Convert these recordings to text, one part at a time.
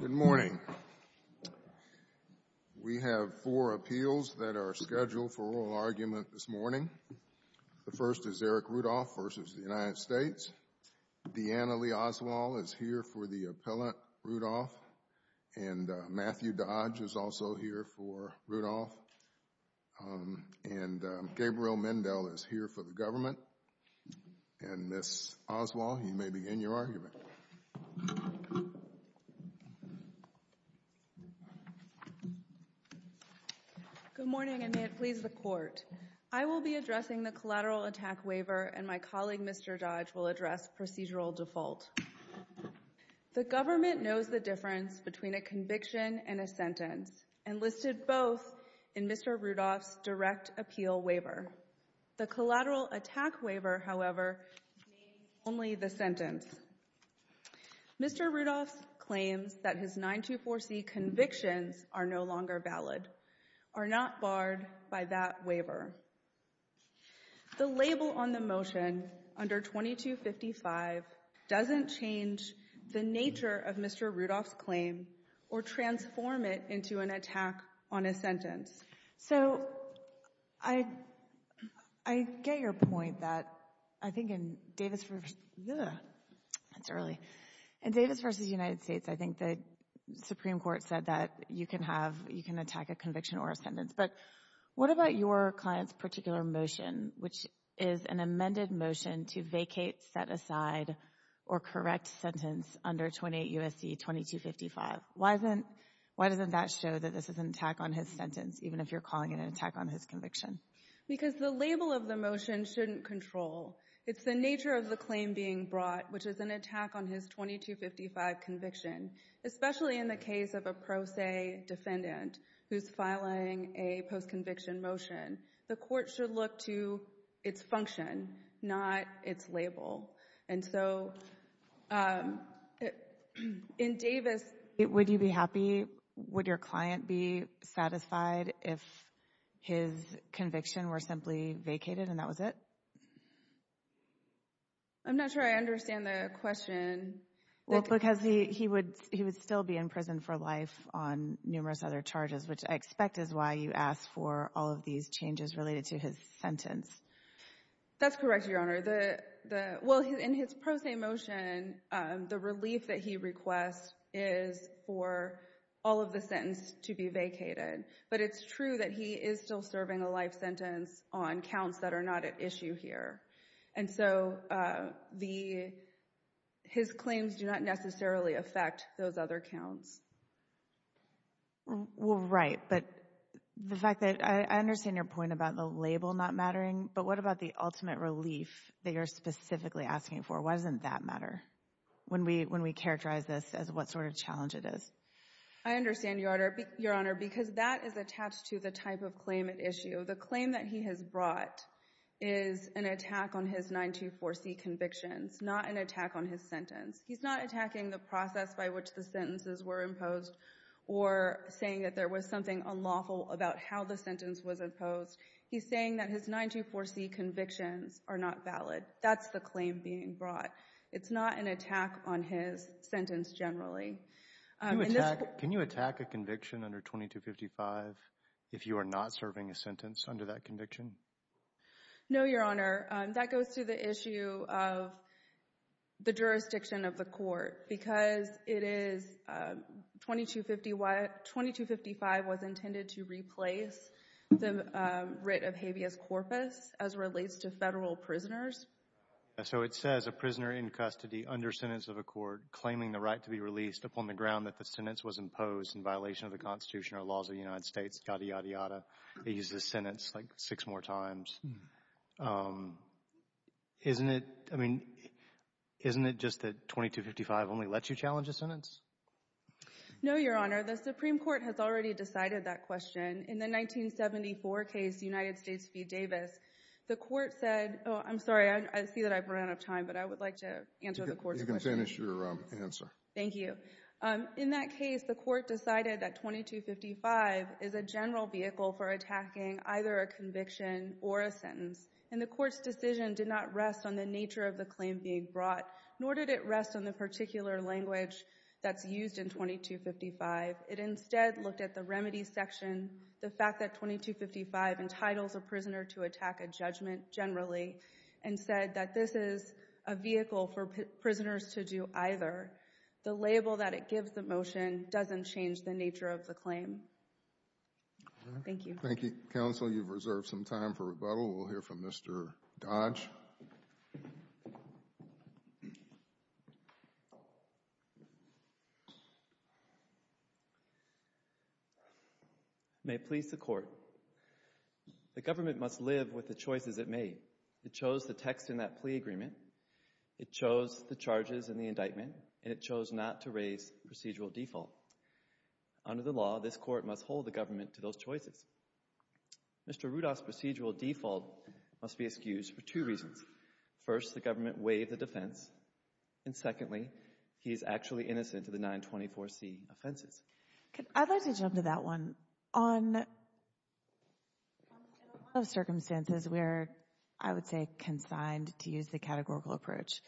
Good morning. We have four appeals that are scheduled for oral argument this morning. The first is Eric Rudolph v. United States. Deanna Lee Oswald is here for the appellant Rudolph and Matthew Dodge is also here for Rudolph. And Gabriel Mendel is here for the Good morning and may it please the court. I will be addressing the collateral attack waiver and my colleague Mr. Dodge will address procedural default. The government knows the difference between a conviction and a sentence and listed both in Mr. Rudolph's direct appeal waiver. The collateral attack waiver, however, means only the sentence. Mr. Rudolph claims that his 924C convictions are no longer valid, are not barred by that waiver. The label on the motion under 2255 doesn't change the nature of Mr. Rudolph's claim or transform it into an attack on a sentence. So I get your point that I think in Davis v. United States I think the Supreme Court said that you can attack a conviction or a sentence, but what about your client's particular motion, which is an amended motion to vacate, set aside, or that this is an attack on his sentence, even if you're calling it an attack on his conviction? Because the label of the motion shouldn't control. It's the nature of the claim being brought, which is an attack on his 2255 conviction, especially in the case of a pro se defendant who's filing a post-conviction motion. The court should look to its function, not its be satisfied if his conviction were simply vacated and that was it? I'm not sure I understand the question. Well, because he would still be in prison for life on numerous other charges, which I expect is why you asked for all of these changes related to his sentence. That's correct, Your Honor. Well, in his pro se motion, the relief that he requests is for all of the sentence to be vacated, but it's true that he is still serving a life sentence on counts that are not at issue here, and so his claims do not necessarily affect those other counts. Well, right, but the fact that I understand your point about the label not mattering, but what about the ultimate relief that you're specifically asking for? Why doesn't that I understand, Your Honor, because that is attached to the type of claim at issue. The claim that he has brought is an attack on his 924C convictions, not an attack on his sentence. He's not attacking the process by which the sentences were imposed or saying that there was something unlawful about how the sentence was imposed. He's saying that his 924C convictions are not valid. That's the claim being brought. It's not an attack on his sentence generally. Can you attack a conviction under 2255 if you are not serving a sentence under that conviction? No, Your Honor. That goes to the issue of the jurisdiction of the court because it is 2255 was intended to replace the writ of habeas corpus as relates to federal prisoners. So it says a prisoner in custody under sentence of a court claiming the right to be released upon the ground that the sentence was imposed in violation of the Constitution or laws of the United States, yada, yada, yada, they use the sentence like six more times. Isn't it, I mean, isn't it just that 2255 only lets you challenge a sentence? No, Your Honor. The Supreme Court has already decided that question. In the 1974 case, United I see that I've run out of time, but I would like to answer the court's question. You can finish your answer. Thank you. In that case, the court decided that 2255 is a general vehicle for attacking either a conviction or a sentence, and the court's decision did not rest on the nature of the claim being brought, nor did it rest on the particular language that's used in 2255. It instead looked at the remedy section, the fact that 2255 entitles a prisoner to attack a judgment generally, and said that this is a vehicle for prisoners to do either. The label that it gives the motion doesn't change the nature of the claim. Thank you. Thank you. Counsel, you've reserved some time for rebuttal. We'll hear from Mr. Dodge. Thank you very much. May it please the Court. The government must live with the choices it made. It chose the text in that plea agreement, it chose the charges in the indictment, and it chose not to raise procedural default. Under the law, this court must hold the government to those choices. Mr. Rudolph's procedural default must be excused for two reasons. First, the government waived the defense, and secondly, he is actually innocent of the 924C offenses. I'd like to jump to that one. On a lot of circumstances, we are, I would say, consigned to use the categorical approach,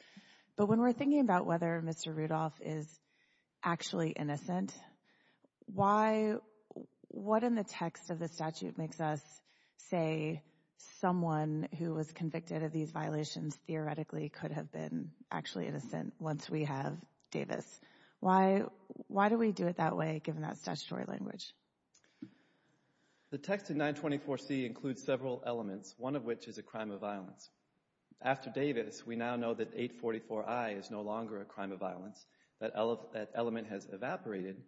but when we're thinking about whether Mr. Rudolph is actually innocent, why, what in the text of the statute makes us say someone who was convicted of these violations theoretically could have been actually innocent once we have Davis? Why do we do it that way, given that statutory language? The text of 924C includes several elements, one of which is a crime of violence. After is no longer a crime of violence. That element has evaporated,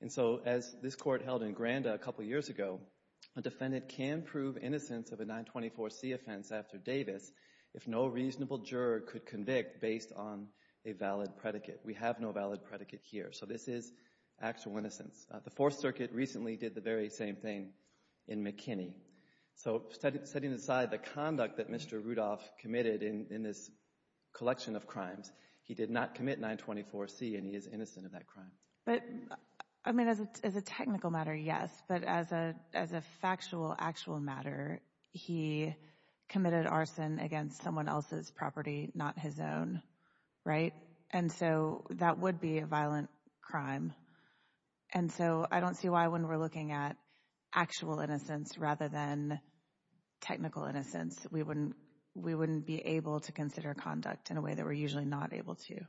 and so as this Court held in Granda a couple years ago, a defendant can prove innocence of a 924C offense after Davis if no reasonable juror could convict based on a valid predicate. We have no valid predicate here, so this is actual innocence. The Fourth Circuit recently did the very same thing in McKinney. So setting aside the conduct that Mr. Rudolph committed in this collection of crimes, he did not commit 924C and he is innocent of that crime. But, I mean, as a technical matter, yes, but as a factual, actual matter, he committed arson against someone else's property, not his own, right? And so that would be a violent crime. And so I don't see why when we're looking at actual innocence rather than technical innocence, we wouldn't be able to consider conduct in a way that we're usually not able to.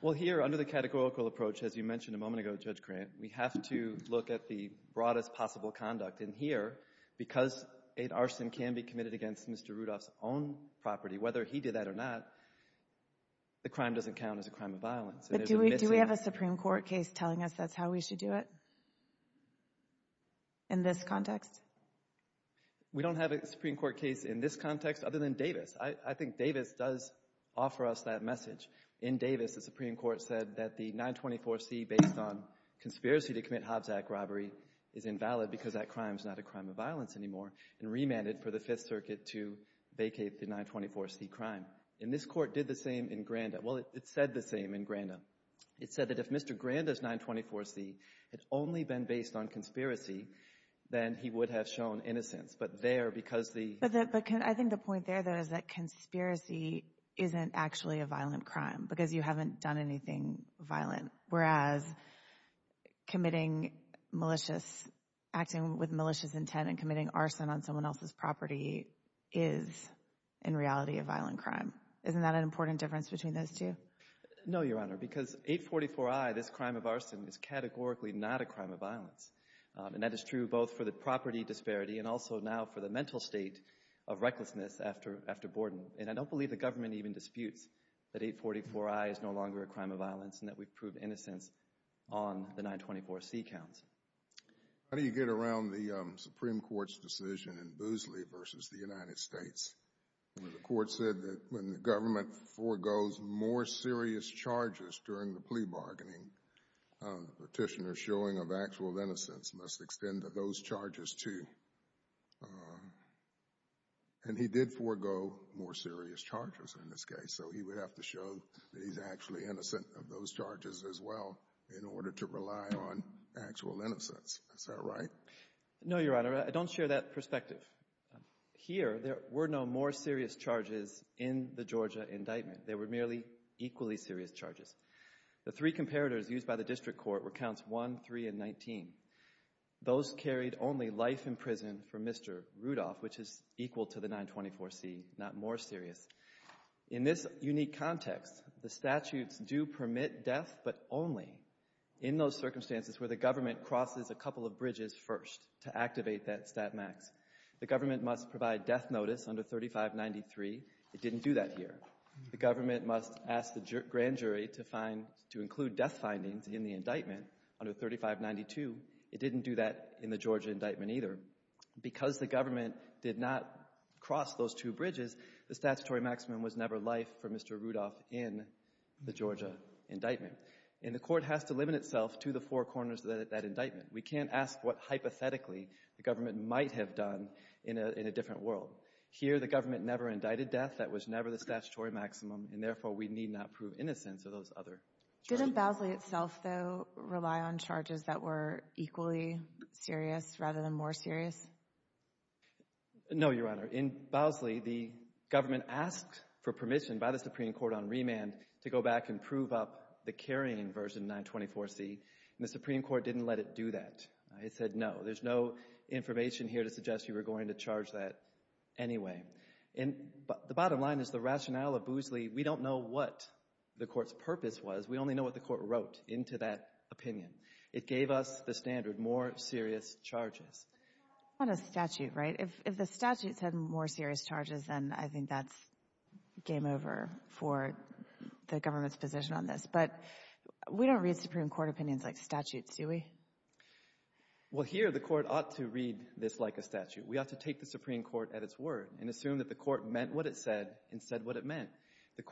Well, here, under the categorical approach, as you mentioned a moment ago, Judge Grant, we have to look at the broadest possible conduct. And here, because an arson can be committed against Mr. Rudolph's own property, whether he did that or not, the crime doesn't count as a crime of violence. But do we have a Supreme Court case telling us that's how we should do it in this context? We don't have a Supreme Court case in this context other than Davis. I think Davis does offer us that message. In Davis, the Supreme Court said that the 924C based on conspiracy to commit Hobbs Act robbery is invalid because that crime is not a crime of violence anymore and remanded for the Fifth Circuit to vacate the 924C crime. And this Court did the same in Granda. Well, it said the same in Granda. It said that if Mr. Granda's 924C had only been based on conspiracy, then he would have shown innocence. But there, because the... But I think the point there, though, is that conspiracy isn't actually a violent crime because you haven't done anything violent, whereas committing malicious, acting with malicious intent and committing arson on someone else's property is, in reality, a violent crime. Isn't that an important difference between those two? No, Your Honor, because 844I, this crime of arson, is categorically not a crime of violence. And that is true both for the property disparity and also now for the mental state of recklessness after Borden. And I don't believe the government even disputes that 844I is no longer a crime of violence and that we've proved innocence on the 924C counts. How do you get around the Supreme Court's decision in Boosley versus the United States where the court said that when the government forgoes more serious charges during the plea bargaining, the petitioner's showing of actual innocence must extend to those charges, too? And he did forgo more serious charges in this case, so he would have to show that he's actually innocent of those charges as well in order to rely on actual innocence. Is that right? No, Your Honor. I don't share that perspective. Here, there were no more serious charges in the Georgia indictment. There were merely equally serious charges. The three comparators used by the district court were counts 1, 3, and 19. Those carried only life in prison for Mr. Rudolph, which is equal to the 924C, not more serious. In this unique context, the statutes do permit death, but only in those circumstances where the government crosses a couple of bridges first to activate that stat max. The government must provide death notice under 3593. It didn't do that here. The government must ask the grand jury to include death findings in the indictment under 3592. It didn't do that in the Georgia indictment either. Because the government did not cross those two bridges, the statutory maximum was never life for Mr. Rudolph in the Georgia indictment. And the court has to limit itself to the four corners of that indictment. We can't ask what, hypothetically, the government might have done in a different world. Here, the government never indicted death. That was never the statutory maximum, and therefore, we need not prove innocence of those other charges. Didn't Bowsley itself, though, rely on charges that were equally serious rather than more serious? No, Your Honor. In Bowsley, the government asked for permission by the Supreme Court on remand to go back and prove up the carrying version 924C, and the Supreme Court didn't let it do that. It said no. There's no information here to suggest you were going to charge that anyway. The bottom line is the rationale of Bowsley, we don't know what the court's purpose was. We only know what the court wrote into that opinion. It gave us the standard, more serious charges. On a statute, right? If the statute said more serious charges, then I think that's game over for the government's position on this. But we don't read Supreme Court opinions like statutes, do we? Well, here, the court ought to read this like a statute. We ought to take the Supreme Court at its word and assume that the court meant what it said and said what it meant. The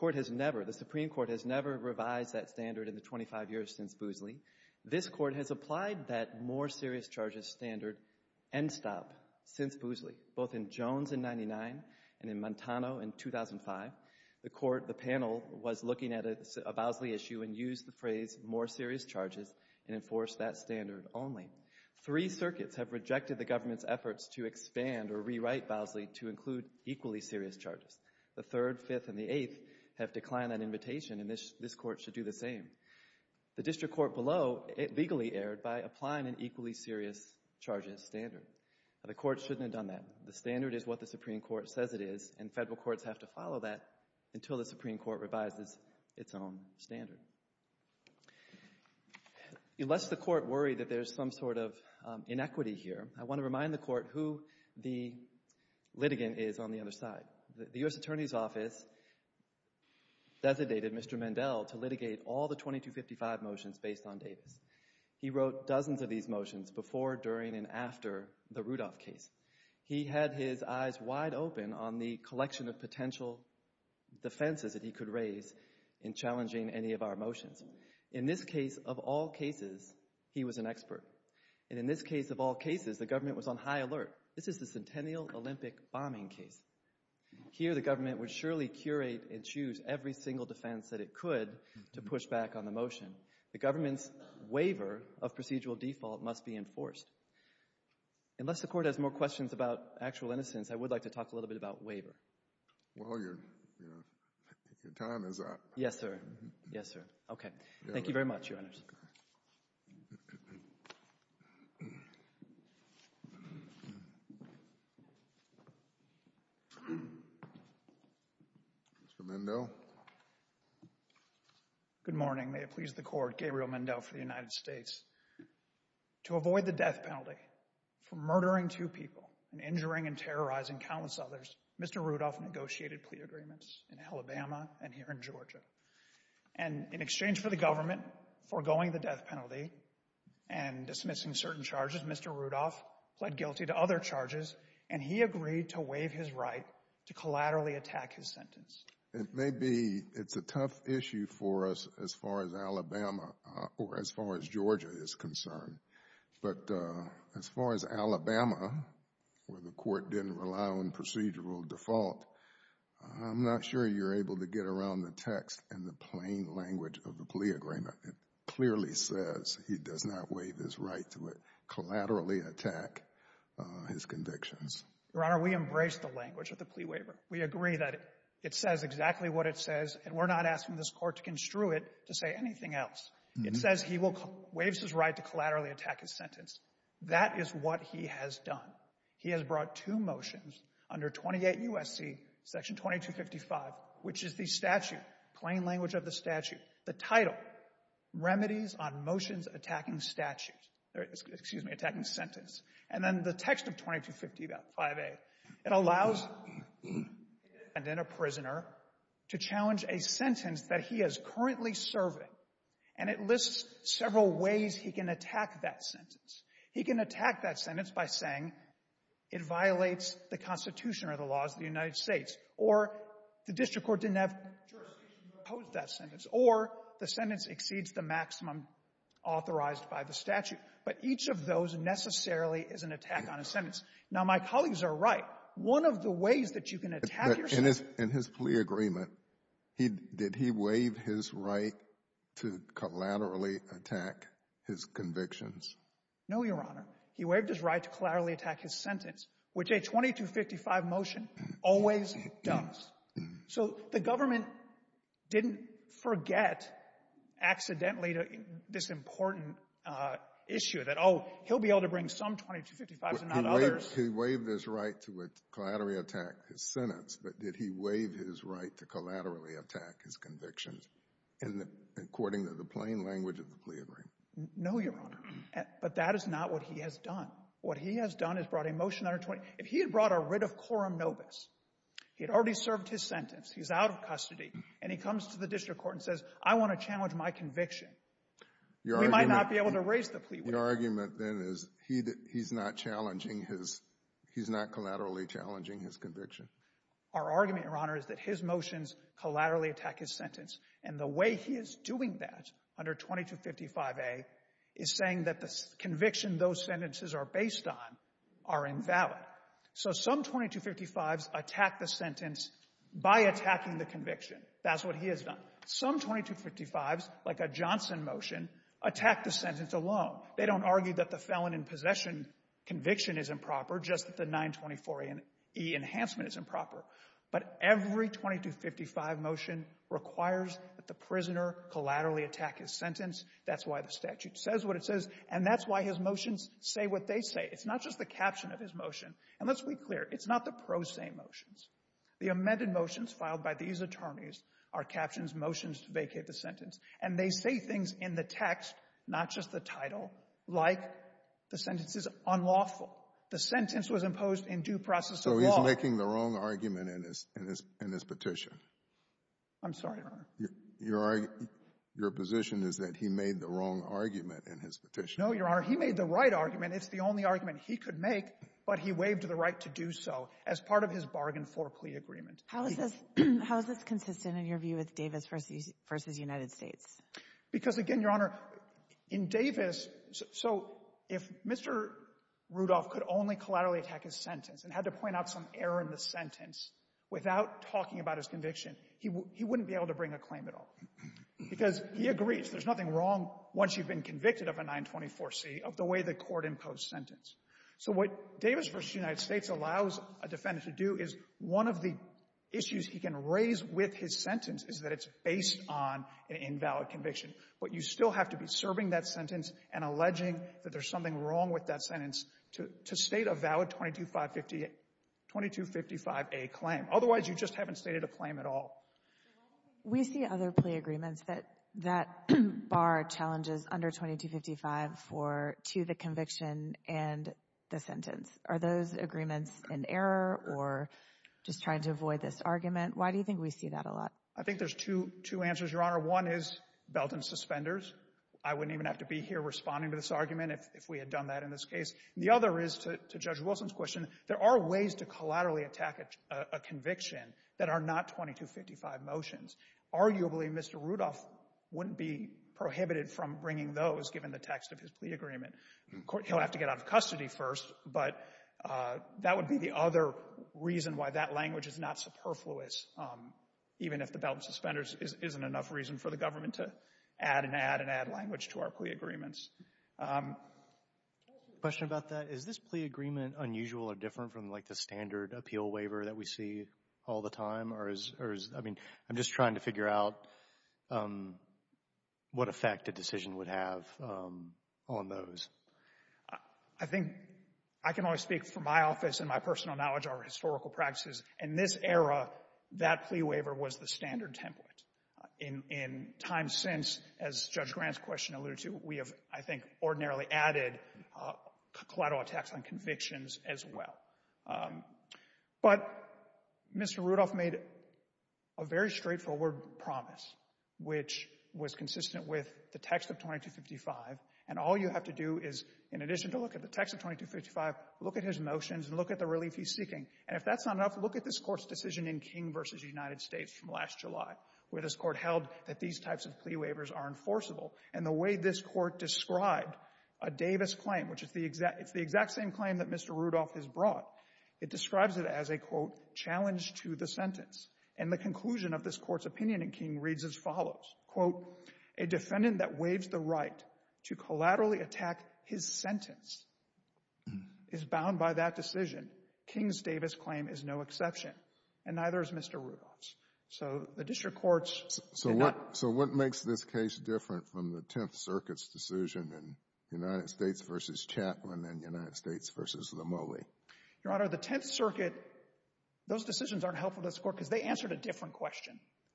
Supreme Court has never revised that standard in the 25 years since Bowsley. This Court has applied that more serious charges standard end stop since Bowsley, both in Jones in 99 and in Montano in 2005. The Court, the panel, was looking at a Bowsley issue and used the phrase more serious charges and enforced that standard only. Three circuits have rejected the government's efforts to expand or rewrite Bowsley to include equally serious charges. The 3rd, 5th, and the 8th have declined that invitation, and this Court should do the same. The district court below legally erred by applying an equally serious charges standard. Now, the Court shouldn't have done that. The standard is what the Supreme Court says it is, and Federal courts have to follow that until the Supreme Court revises its own standard. It lets the Court worry that there's some sort of other case on the other side. The U.S. Attorney's office designated Mr. Mandel to litigate all of the 2255 motions based on Davis. He wrote dozens of these motions before, during, and after the Rudolph case. He had his eyes wide open on the collection of potential defenses that he could raise in challenging any of our motions. In this case, of all cases, he was an expert. And in this case, of all cases, the government was on high alert. This is the Centennial Olympic bombing case. Here, the government would surely curate and choose every single defense that it could to push back on the motion. The government's waiver of procedural default must be enforced. Unless the Court has more questions about actual innocence, I would like to talk a little bit about waiver. Well, your time is up. Yes, sir. Yes, sir. Okay. Thank you very much, Your Honors. Mr. Mandel. Good morning. May it please the Court, Gabriel Mandel for the United States. To avoid the death penalty for murdering two people and injuring and terrorizing countless others, Mr. Rudolph negotiated plea agreements in Alabama and here in Georgia. And in exchange for the government foregoing the death penalty and dismissing certain charges, Mr. Rudolph pled guilty to other charges, and he agreed to waive his right to collaterally attack his sentence. It may be it's a tough issue for us as far as Alabama or as far as Georgia is concerned. But as far as Alabama, where the Court didn't rely on procedural default, I'm not sure you're able to get around the text and the plain language of the plea agreement. It clearly says he does not waive his right to collaterally attack his convictions. Your Honor, we embrace the language of the plea waiver. We agree that it says exactly what it says, and we're not asking this Court to construe it to say anything else. It says he waives his right to collaterally attack his sentence. That is what he has done. He has brought two motions under 28 U.S.C. Section 2255, which is the statute, plain language of the statute. The title, Remedies on Motions Attacking Statute, excuse me, Attacking Sentence. And then the text of 2255A. It allows a defendant and a prisoner to challenge a sentence that he is currently serving, and it lists several ways he can attack that sentence. He can attack that sentence by saying it violates the Constitution or the laws of the United States, or the district court didn't have jurisdiction to oppose that sentence, or the sentence exceeds the maximum authorized by the statute. But each of those necessarily is an attack on a sentence. Now, my colleagues are right. One of the ways that you can attack your sentence — In his plea agreement, did he waive his right to collaterally attack his convictions? No, Your Honor. He waived his right to collaterally attack his sentence, which a 2255 motion always does. So the government didn't forget accidentally this important issue that, oh, he'll be able to bring some 2255s and not others. He waived his right to collaterally attack his sentence, but did he waive his right to collaterally attack his convictions according to the plain language of the plea agreement? No, Your Honor. But that is not what he has done. What he has done is brought a motion under 20. If he had brought a writ of quorum nobis, he had already served his sentence, he's out of custody, and he comes to the district court and says, I want to challenge my conviction, we might not be able to raise the plea. Your argument, then, is he's not challenging his — he's not collaterally challenging his conviction? Our argument, Your Honor, is that his motions collaterally attack his sentence, and the way he is doing that under 2255A is saying that the conviction those sentences are based on are invalid. So some 2255s attack the sentence by attacking the conviction. That's what he has done. Some 2255s, like a Johnson motion, attack the sentence alone. They don't argue that the felon in possession conviction is improper, just that the 924E enhancement is improper. But every 2255 motion requires that the prisoner collaterally attack his sentence. That's why the statute says what it says, and that's why his motions say what they say. It's not just the caption of his motion. And let's be clear. It's not the pro se motions. The amended motions filed by these attorneys are captions, motions to vacate the sentence, and they say things in the text, not just the title, like the sentence is unlawful. The sentence was imposed in due process of law. So he's making the wrong argument in his petition. I'm sorry, Your Honor. Your position is that he made the wrong argument in his petition. No, Your Honor. He made the right argument. It's the only argument he could make. But he waived the right to do so as part of his bargain for plea agreement. How is this consistent in your view with Davis v. United States? Because, again, Your Honor, in Davis, so if Mr. Rudolph could only collaterally attack his sentence and had to point out some error in the sentence without talking about his conviction, he wouldn't be able to bring a claim at all because he agrees there's nothing wrong once you've been convicted of a 924C of the way the court imposed sentence. So what Davis v. United States allows a defendant to do is one of the issues he can raise with his sentence is that it's based on an invalid conviction. But you still have to be serving that sentence and alleging that there's something wrong with that sentence to state a valid 2255A claim. Otherwise, you just haven't stated a claim at all. We see other plea agreements that that bar challenges under 2255 to the conviction and the sentence. Are those agreements an error or just trying to avoid this argument? Why do you think we see that a lot? I think there's two answers, Your Honor. One is belt and suspenders. I wouldn't even have to be here responding to this argument if we had done that in this case. The other is, to Judge Wilson's question, there are ways to collaterally attack a conviction that are not 2255 motions. Arguably, Mr. Rudolph wouldn't be prohibited from bringing those given the text of his plea agreement. He'll have to get out of custody first, but that would be the other reason why that language is not superfluous, even if the belt and suspenders isn't enough reason for the government to add and add and add language to our plea agreements. Question about that. Is this plea agreement unusual or different from, like, the standard appeal waiver that we see all the time? I mean, I'm just trying to figure out what effect a decision would have on those. I think I can only speak from my office and my personal knowledge of our historical practices. In this era, that plea waiver was the standard template. In time since, as Judge Grant's question alluded to, we have, I think, ordinarily added collateral attacks on convictions as well. But Mr. Rudolph made a very straightforward promise, which was consistent with the text of 2255, and all you have to do is, in addition to look at the text of 2255, look at his motions and look at the relief he's seeking. And if that's not enough, look at this Court's decision in King v. United States from last July, where this Court held that these types of plea waivers are enforceable. And the way this Court described a Davis claim, which is the exact same claim that Mr. Rudolph has brought, it describes it as a, quote, challenge to the sentence. And the conclusion of this Court's opinion in King reads as follows, quote, a defendant that waives the right to collaterally attack his sentence is bound by that decision. King's Davis claim is no exception, and neither is Mr. Rudolph's. So the District Courts did not. So what makes this case different from the Tenth Circuit's decision in United States v. Chapman and United States v. Lomeli? Your Honor, the Tenth Circuit,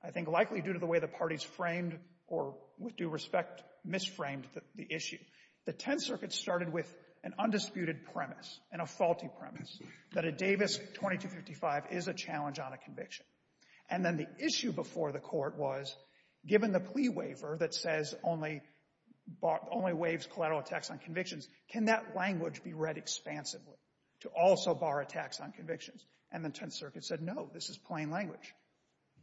likely due to the way the parties framed or, with due respect, misframed the issue, the Tenth Circuit started with an undisputed premise and a faulty premise that a Davis 2255 is a challenge on a conviction. And then the issue before the Court was, given the plea waiver that says only waives collateral attacks on convictions, can that language be read expansively to also bar attacks on convictions? And the Tenth Circuit said, no, this is plain language.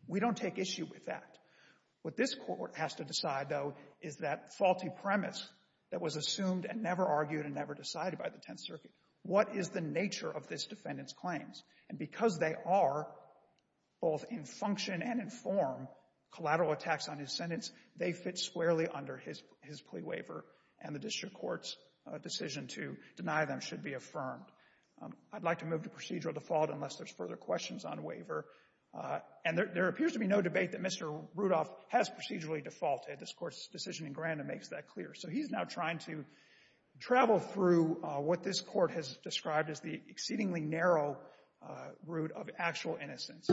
We don't take issue with that. What this Court has to decide, though, is that faulty premise that was assumed and never argued and never decided by the Tenth Circuit. What is the nature of this defendant's claims? And because they are both in function and in form collateral attacks on his sentence, they fit squarely under his plea waiver, and the District Courts' decision to deny them should be affirmed. I'd like to move to procedural default unless there's further questions on waiver. And there appears to be no debate that Mr. Rudolph has procedurally defaulted. This Court's decision in Granum makes that clear. So he's now trying to travel through what this Court has described as the exceedingly narrow route of actual innocence.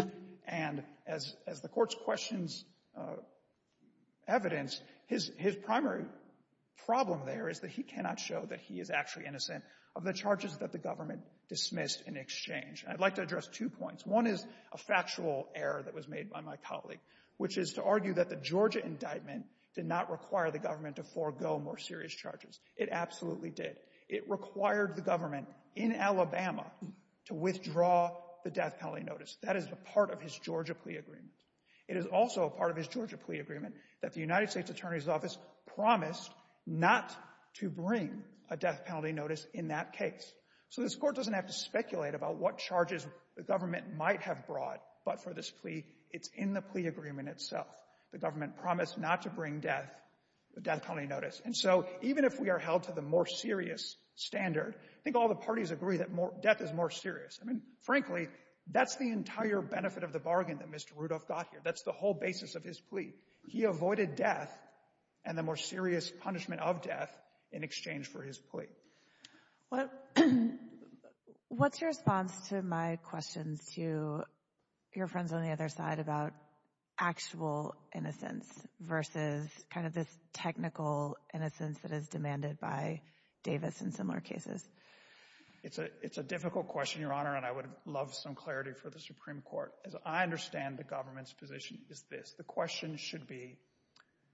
And as the Court's questions evidence, his primary problem there is that he cannot show that he is actually innocent of the charges that the government dismissed in exchange. And I'd like to address two points. One is a factual error that was made by my colleague, which is to argue that the Georgia indictment did not require the government to forego more serious charges. It absolutely did. It required the government in Alabama to withdraw the death penalty notice. That is a part of his Georgia plea agreement. It is also a part of his Georgia plea agreement that the United States Attorney's Office promised not to bring a death penalty notice in that case. So this Court doesn't have to speculate about what charges the government might have brought, but for this plea, it's in the plea agreement itself. The government parties agree that death is more serious. I mean, frankly, that's the entire benefit of the bargain that Mr. Rudolph got here. That's the whole basis of his plea. He avoided death and the more serious punishment of death in exchange for his plea. What's your response to my questions to your friends on the other side about actual innocence versus kind of this It's a difficult question, Your Honor, and I would love some clarity for the Supreme Court. As I understand the government's position, it's this. The question should be,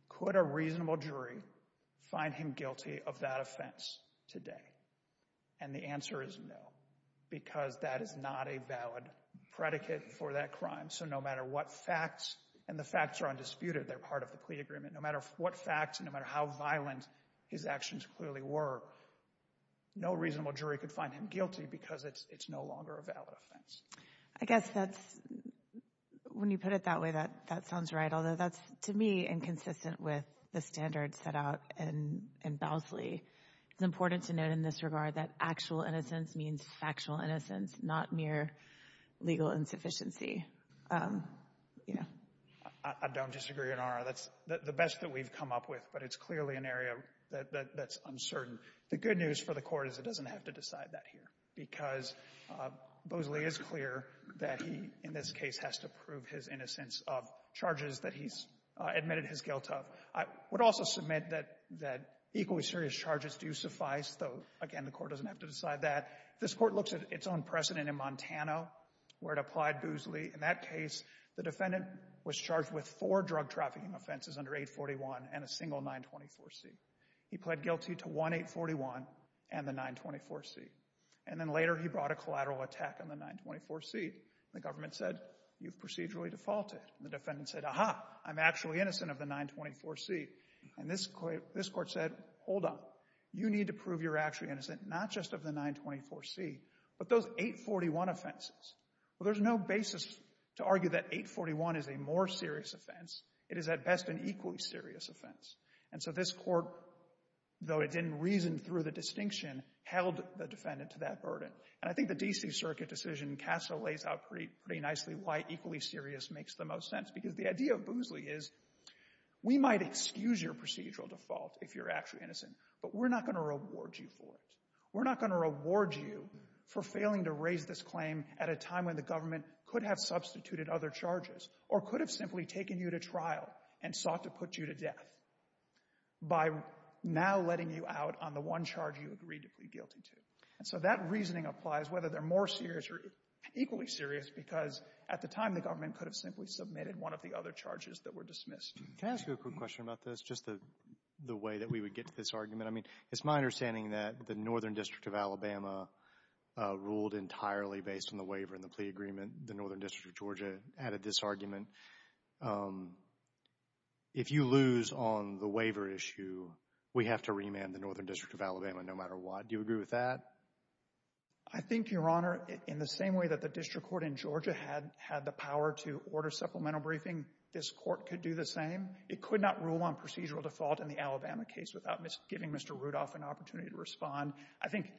could a reasonable jury find him guilty of that offense today? And the answer is no, because that is not a valid predicate for that crime. So no matter what facts, and the facts are undisputed. They're part of the plea agreement. No matter what facts, and no matter how violent his actions clearly were, no reasonable jury could find him guilty because it's no longer a valid offense. I guess that's when you put it that way, that sounds right, although that's, to me, inconsistent with the standards set out in Bousley. It's important to note in this regard that actual innocence means factual innocence, not mere legal insufficiency. I don't disagree, Your Honor. That's the best that we've come up with, but it's clearly an area that's uncertain. The good news for the Court is it doesn't have to decide that here because Bousley is clear that he, in this case, has to prove his innocence of charges that he's admitted his guilt of. I would also submit that equally serious charges do suffice, though, again, the Court doesn't have to decide that. This Court looks at its own precedent in Montana where it applied Bousley. In that case, the defendant was charged with four drug trafficking offenses under 841 and a single 924C. He pled guilty to one 841 and the 924C. And then later he brought a collateral attack on the 924C. The government said, you've procedurally defaulted. The defendant said, aha, I'm actually innocent of the 924C. And this Court said, hold on. You need to prove you're actually innocent, not just of the 924C, but those 841 offenses. Well, there's no basis to argue that 841 is a more serious offense. It is, at best, an equally serious offense. And so this Court, though it didn't reason through the distinction, held the defendant to that burden. And I think the D.C. Circuit decision in CASA lays out pretty nicely why equally serious makes the most sense. Because the idea of Bousley is, we might excuse your procedural default if you're actually innocent, but we're not going to reward you for it. We're not going to reward you for failing to raise this claim at a time when the government could have substituted other charges or could have simply taken you to trial and sought to put you to death by now letting you out on the one charge you agreed to plead guilty to. And so that reasoning applies whether they're more serious or equally serious, because at the time the government could have simply submitted one of the other charges that were dismissed. Can I ask you a quick question about this, just the way that we would get to this argument? I mean, it's my understanding that the Northern District of Alabama ruled entirely based on the waiver and the plea agreement. The Northern District of Georgia added this argument. If you lose on the I think, Your Honor, in the same way that the district court in Georgia had the power to order supplemental briefing, this court could do the same. It could not rule on procedural default in the Alabama case without giving Mr. Rudolph an opportunity to respond. I think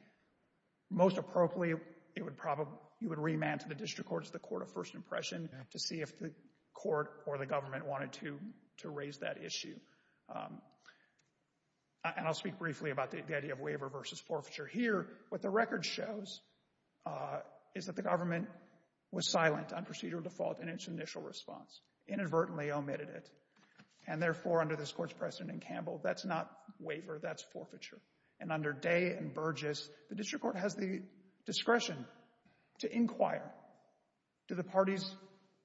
most appropriately you would remand to the district court as the court of first impression to see if the court or the government wanted to raise that issue. And I'll speak briefly about the idea of waiver versus forfeiture. Here, what the record shows is that the government was silent on procedural default in its initial response, inadvertently omitted it. And therefore, under this court's precedent in Campbell, that's not waiver, that's forfeiture. And under Day and Burgess, the district court has the discretion to inquire, do the parties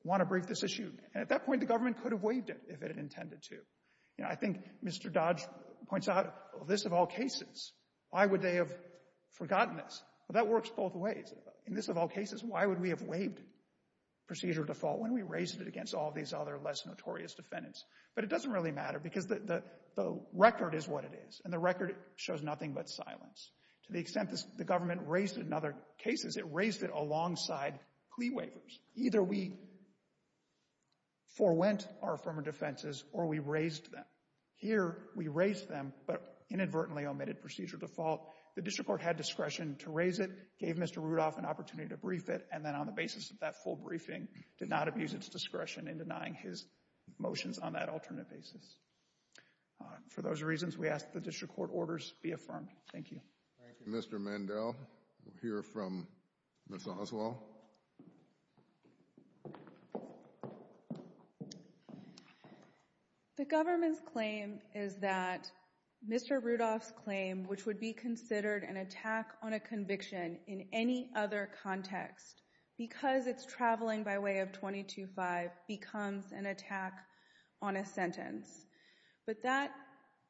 want to brief this issue? And at that point, the government could have waived it if it intended to. I think Mr. Dodge points out, well, this of all cases, why would they have forgotten this? Well, that works both ways. In this of all cases, why would we have waived procedural default when we raised it against all these other less notorious defendants? But it doesn't really matter because the record is what it is, and the record shows nothing but silence. To the extent that the government raised it in other cases, it raised it alongside plea waivers. Either we forewent our affirmative defenses or we raised them. Here, we raised them but inadvertently omitted procedural default. The district court had discretion to raise it, gave Mr. Rudolph an opportunity to brief it, and then on the basis of that full briefing, did not abuse its discretion in denying his motions on that alternate basis. For those reasons, we ask that the district court orders be affirmed. Thank you. Thank you, Mr. Mandel. We'll hear from Ms. Oswald. The government's claim is that Mr. Rudolph's claim, which would be considered an attack on a conviction in any other context because it's traveling by way of 22-5, becomes an attack on a sentence. But that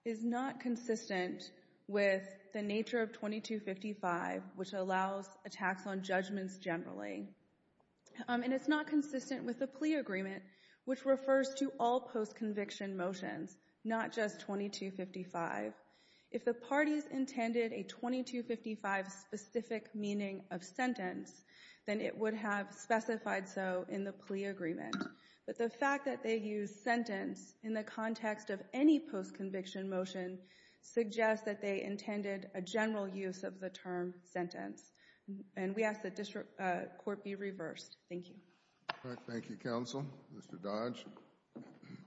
is not consistent with the nature of 22-55, which allows attacks on judgments generally. And it's not consistent with the plea agreement, which refers to all post-conviction motions, not just 22-55. If the parties intended a 22-55 specific meaning of sentence, then it would have specified so in the plea agreement. But the fact that they used sentence in the context of any post-conviction motion suggests that they intended a general use of the term sentence. And we ask the district court be reversed. Thank you. Thank you, counsel. Mr. Dodge.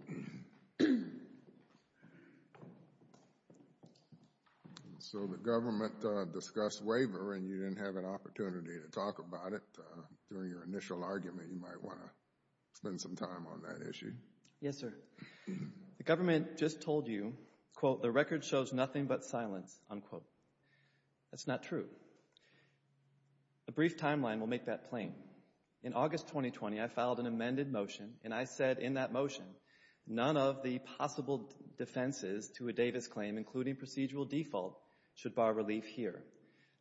Mr. Dodge. So the government discussed waiver and you didn't have an opportunity to talk about it during your initial argument. You might want to spend some time on that issue. Yes, sir. The government just told you, quote, the record shows nothing but silence, unquote. That's not true. A brief timeline will make that plain. In August 2020, I filed an amended motion, and I said in that motion, none of the possible defenses to a Davis claim, including procedural default, should bar relief here.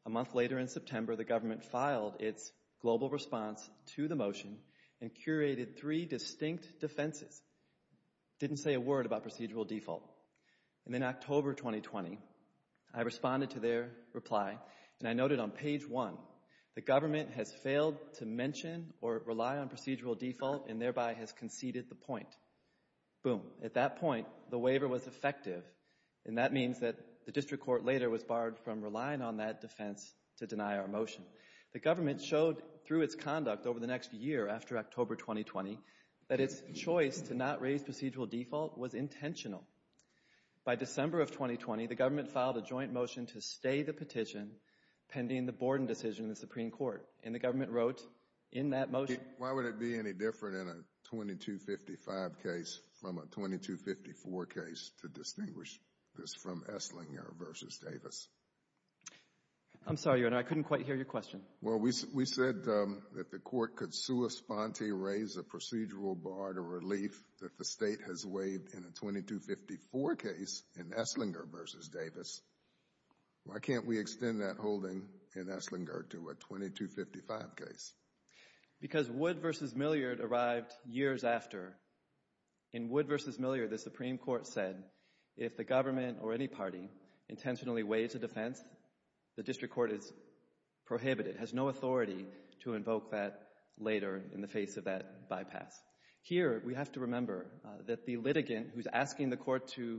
A month later in September, the government filed its global response to the motion and curated three distinct defenses. Didn't say a word about procedural default. And then I noted on page one, the government has failed to mention or rely on procedural default and thereby has conceded the point. Boom. At that point, the waiver was effective. And that means that the district court later was barred from relying on that defense to deny our motion. The government showed through its conduct over the next year after October 2020 that its choice to not raise procedural default was intentional. By December of 2020, the government filed a joint motion to stay the petition pending the Borden decision in the Supreme Court. And the government wrote in that motion Why would it be any different in a 2255 case from a 2254 case to distinguish this from Esslinger v. Davis? I'm sorry, Your Honor. I couldn't quite hear your question. Well, we said that the court could raise a procedural bar to relief that the state has waived in a 2254 case in Esslinger v. Davis. Why can't we extend that holding in Esslinger to a 2255 case? Because Wood v. Milliard arrived years after. In Wood v. Milliard, the Supreme Court said, if the government or any party intentionally waives a defense, the district court is prohibited, has no authority to invoke that later in the face of that bypass. Here, we have to remember that the litigant who's asking the court to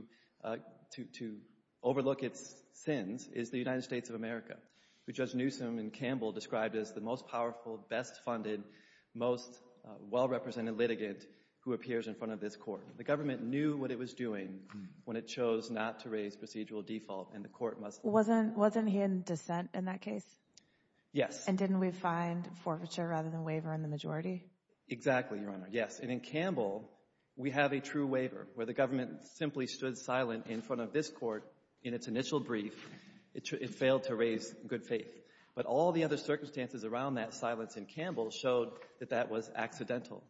overlook its sins is the United States of America, who Judge Newsom and Campbell described as the most powerful, best-funded, most well-represented litigant who appears in front of this court. The government knew what it was doing when it chose not to raise procedural default, and the court must leave. Wasn't he in dissent in that case? Yes. And didn't we find forfeiture rather than waiver in the majority? Exactly, Your Honor. Yes. And in Campbell, we have a true waiver where the government simply stood silent in front of this court in its initial brief. It failed to raise good faith. But all the other circumstances around that silence in Campbell showed that that was accidental.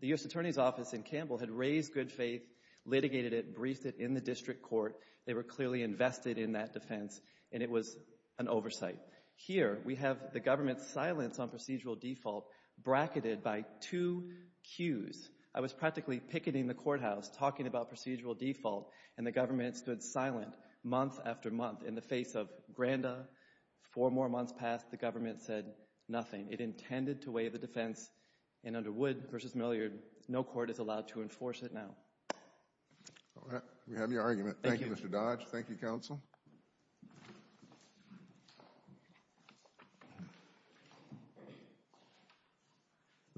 The U.S. Attorney's Office in Campbell had raised good faith, litigated it, briefed it in the district court. They were clearly invested in that defense, and it was an oversight. Here, we have the government's silence on procedural default bracketed by two cues. I was practically picketing the courthouse talking about procedural default, and the government stood silent month after month in the face of nothing. It intended to weigh the defense, and under Wood v. Milliard, no court is allowed to enforce it now. All right. We have your argument. Thank you, Mr. Dodge. Thank you,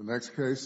Counsel.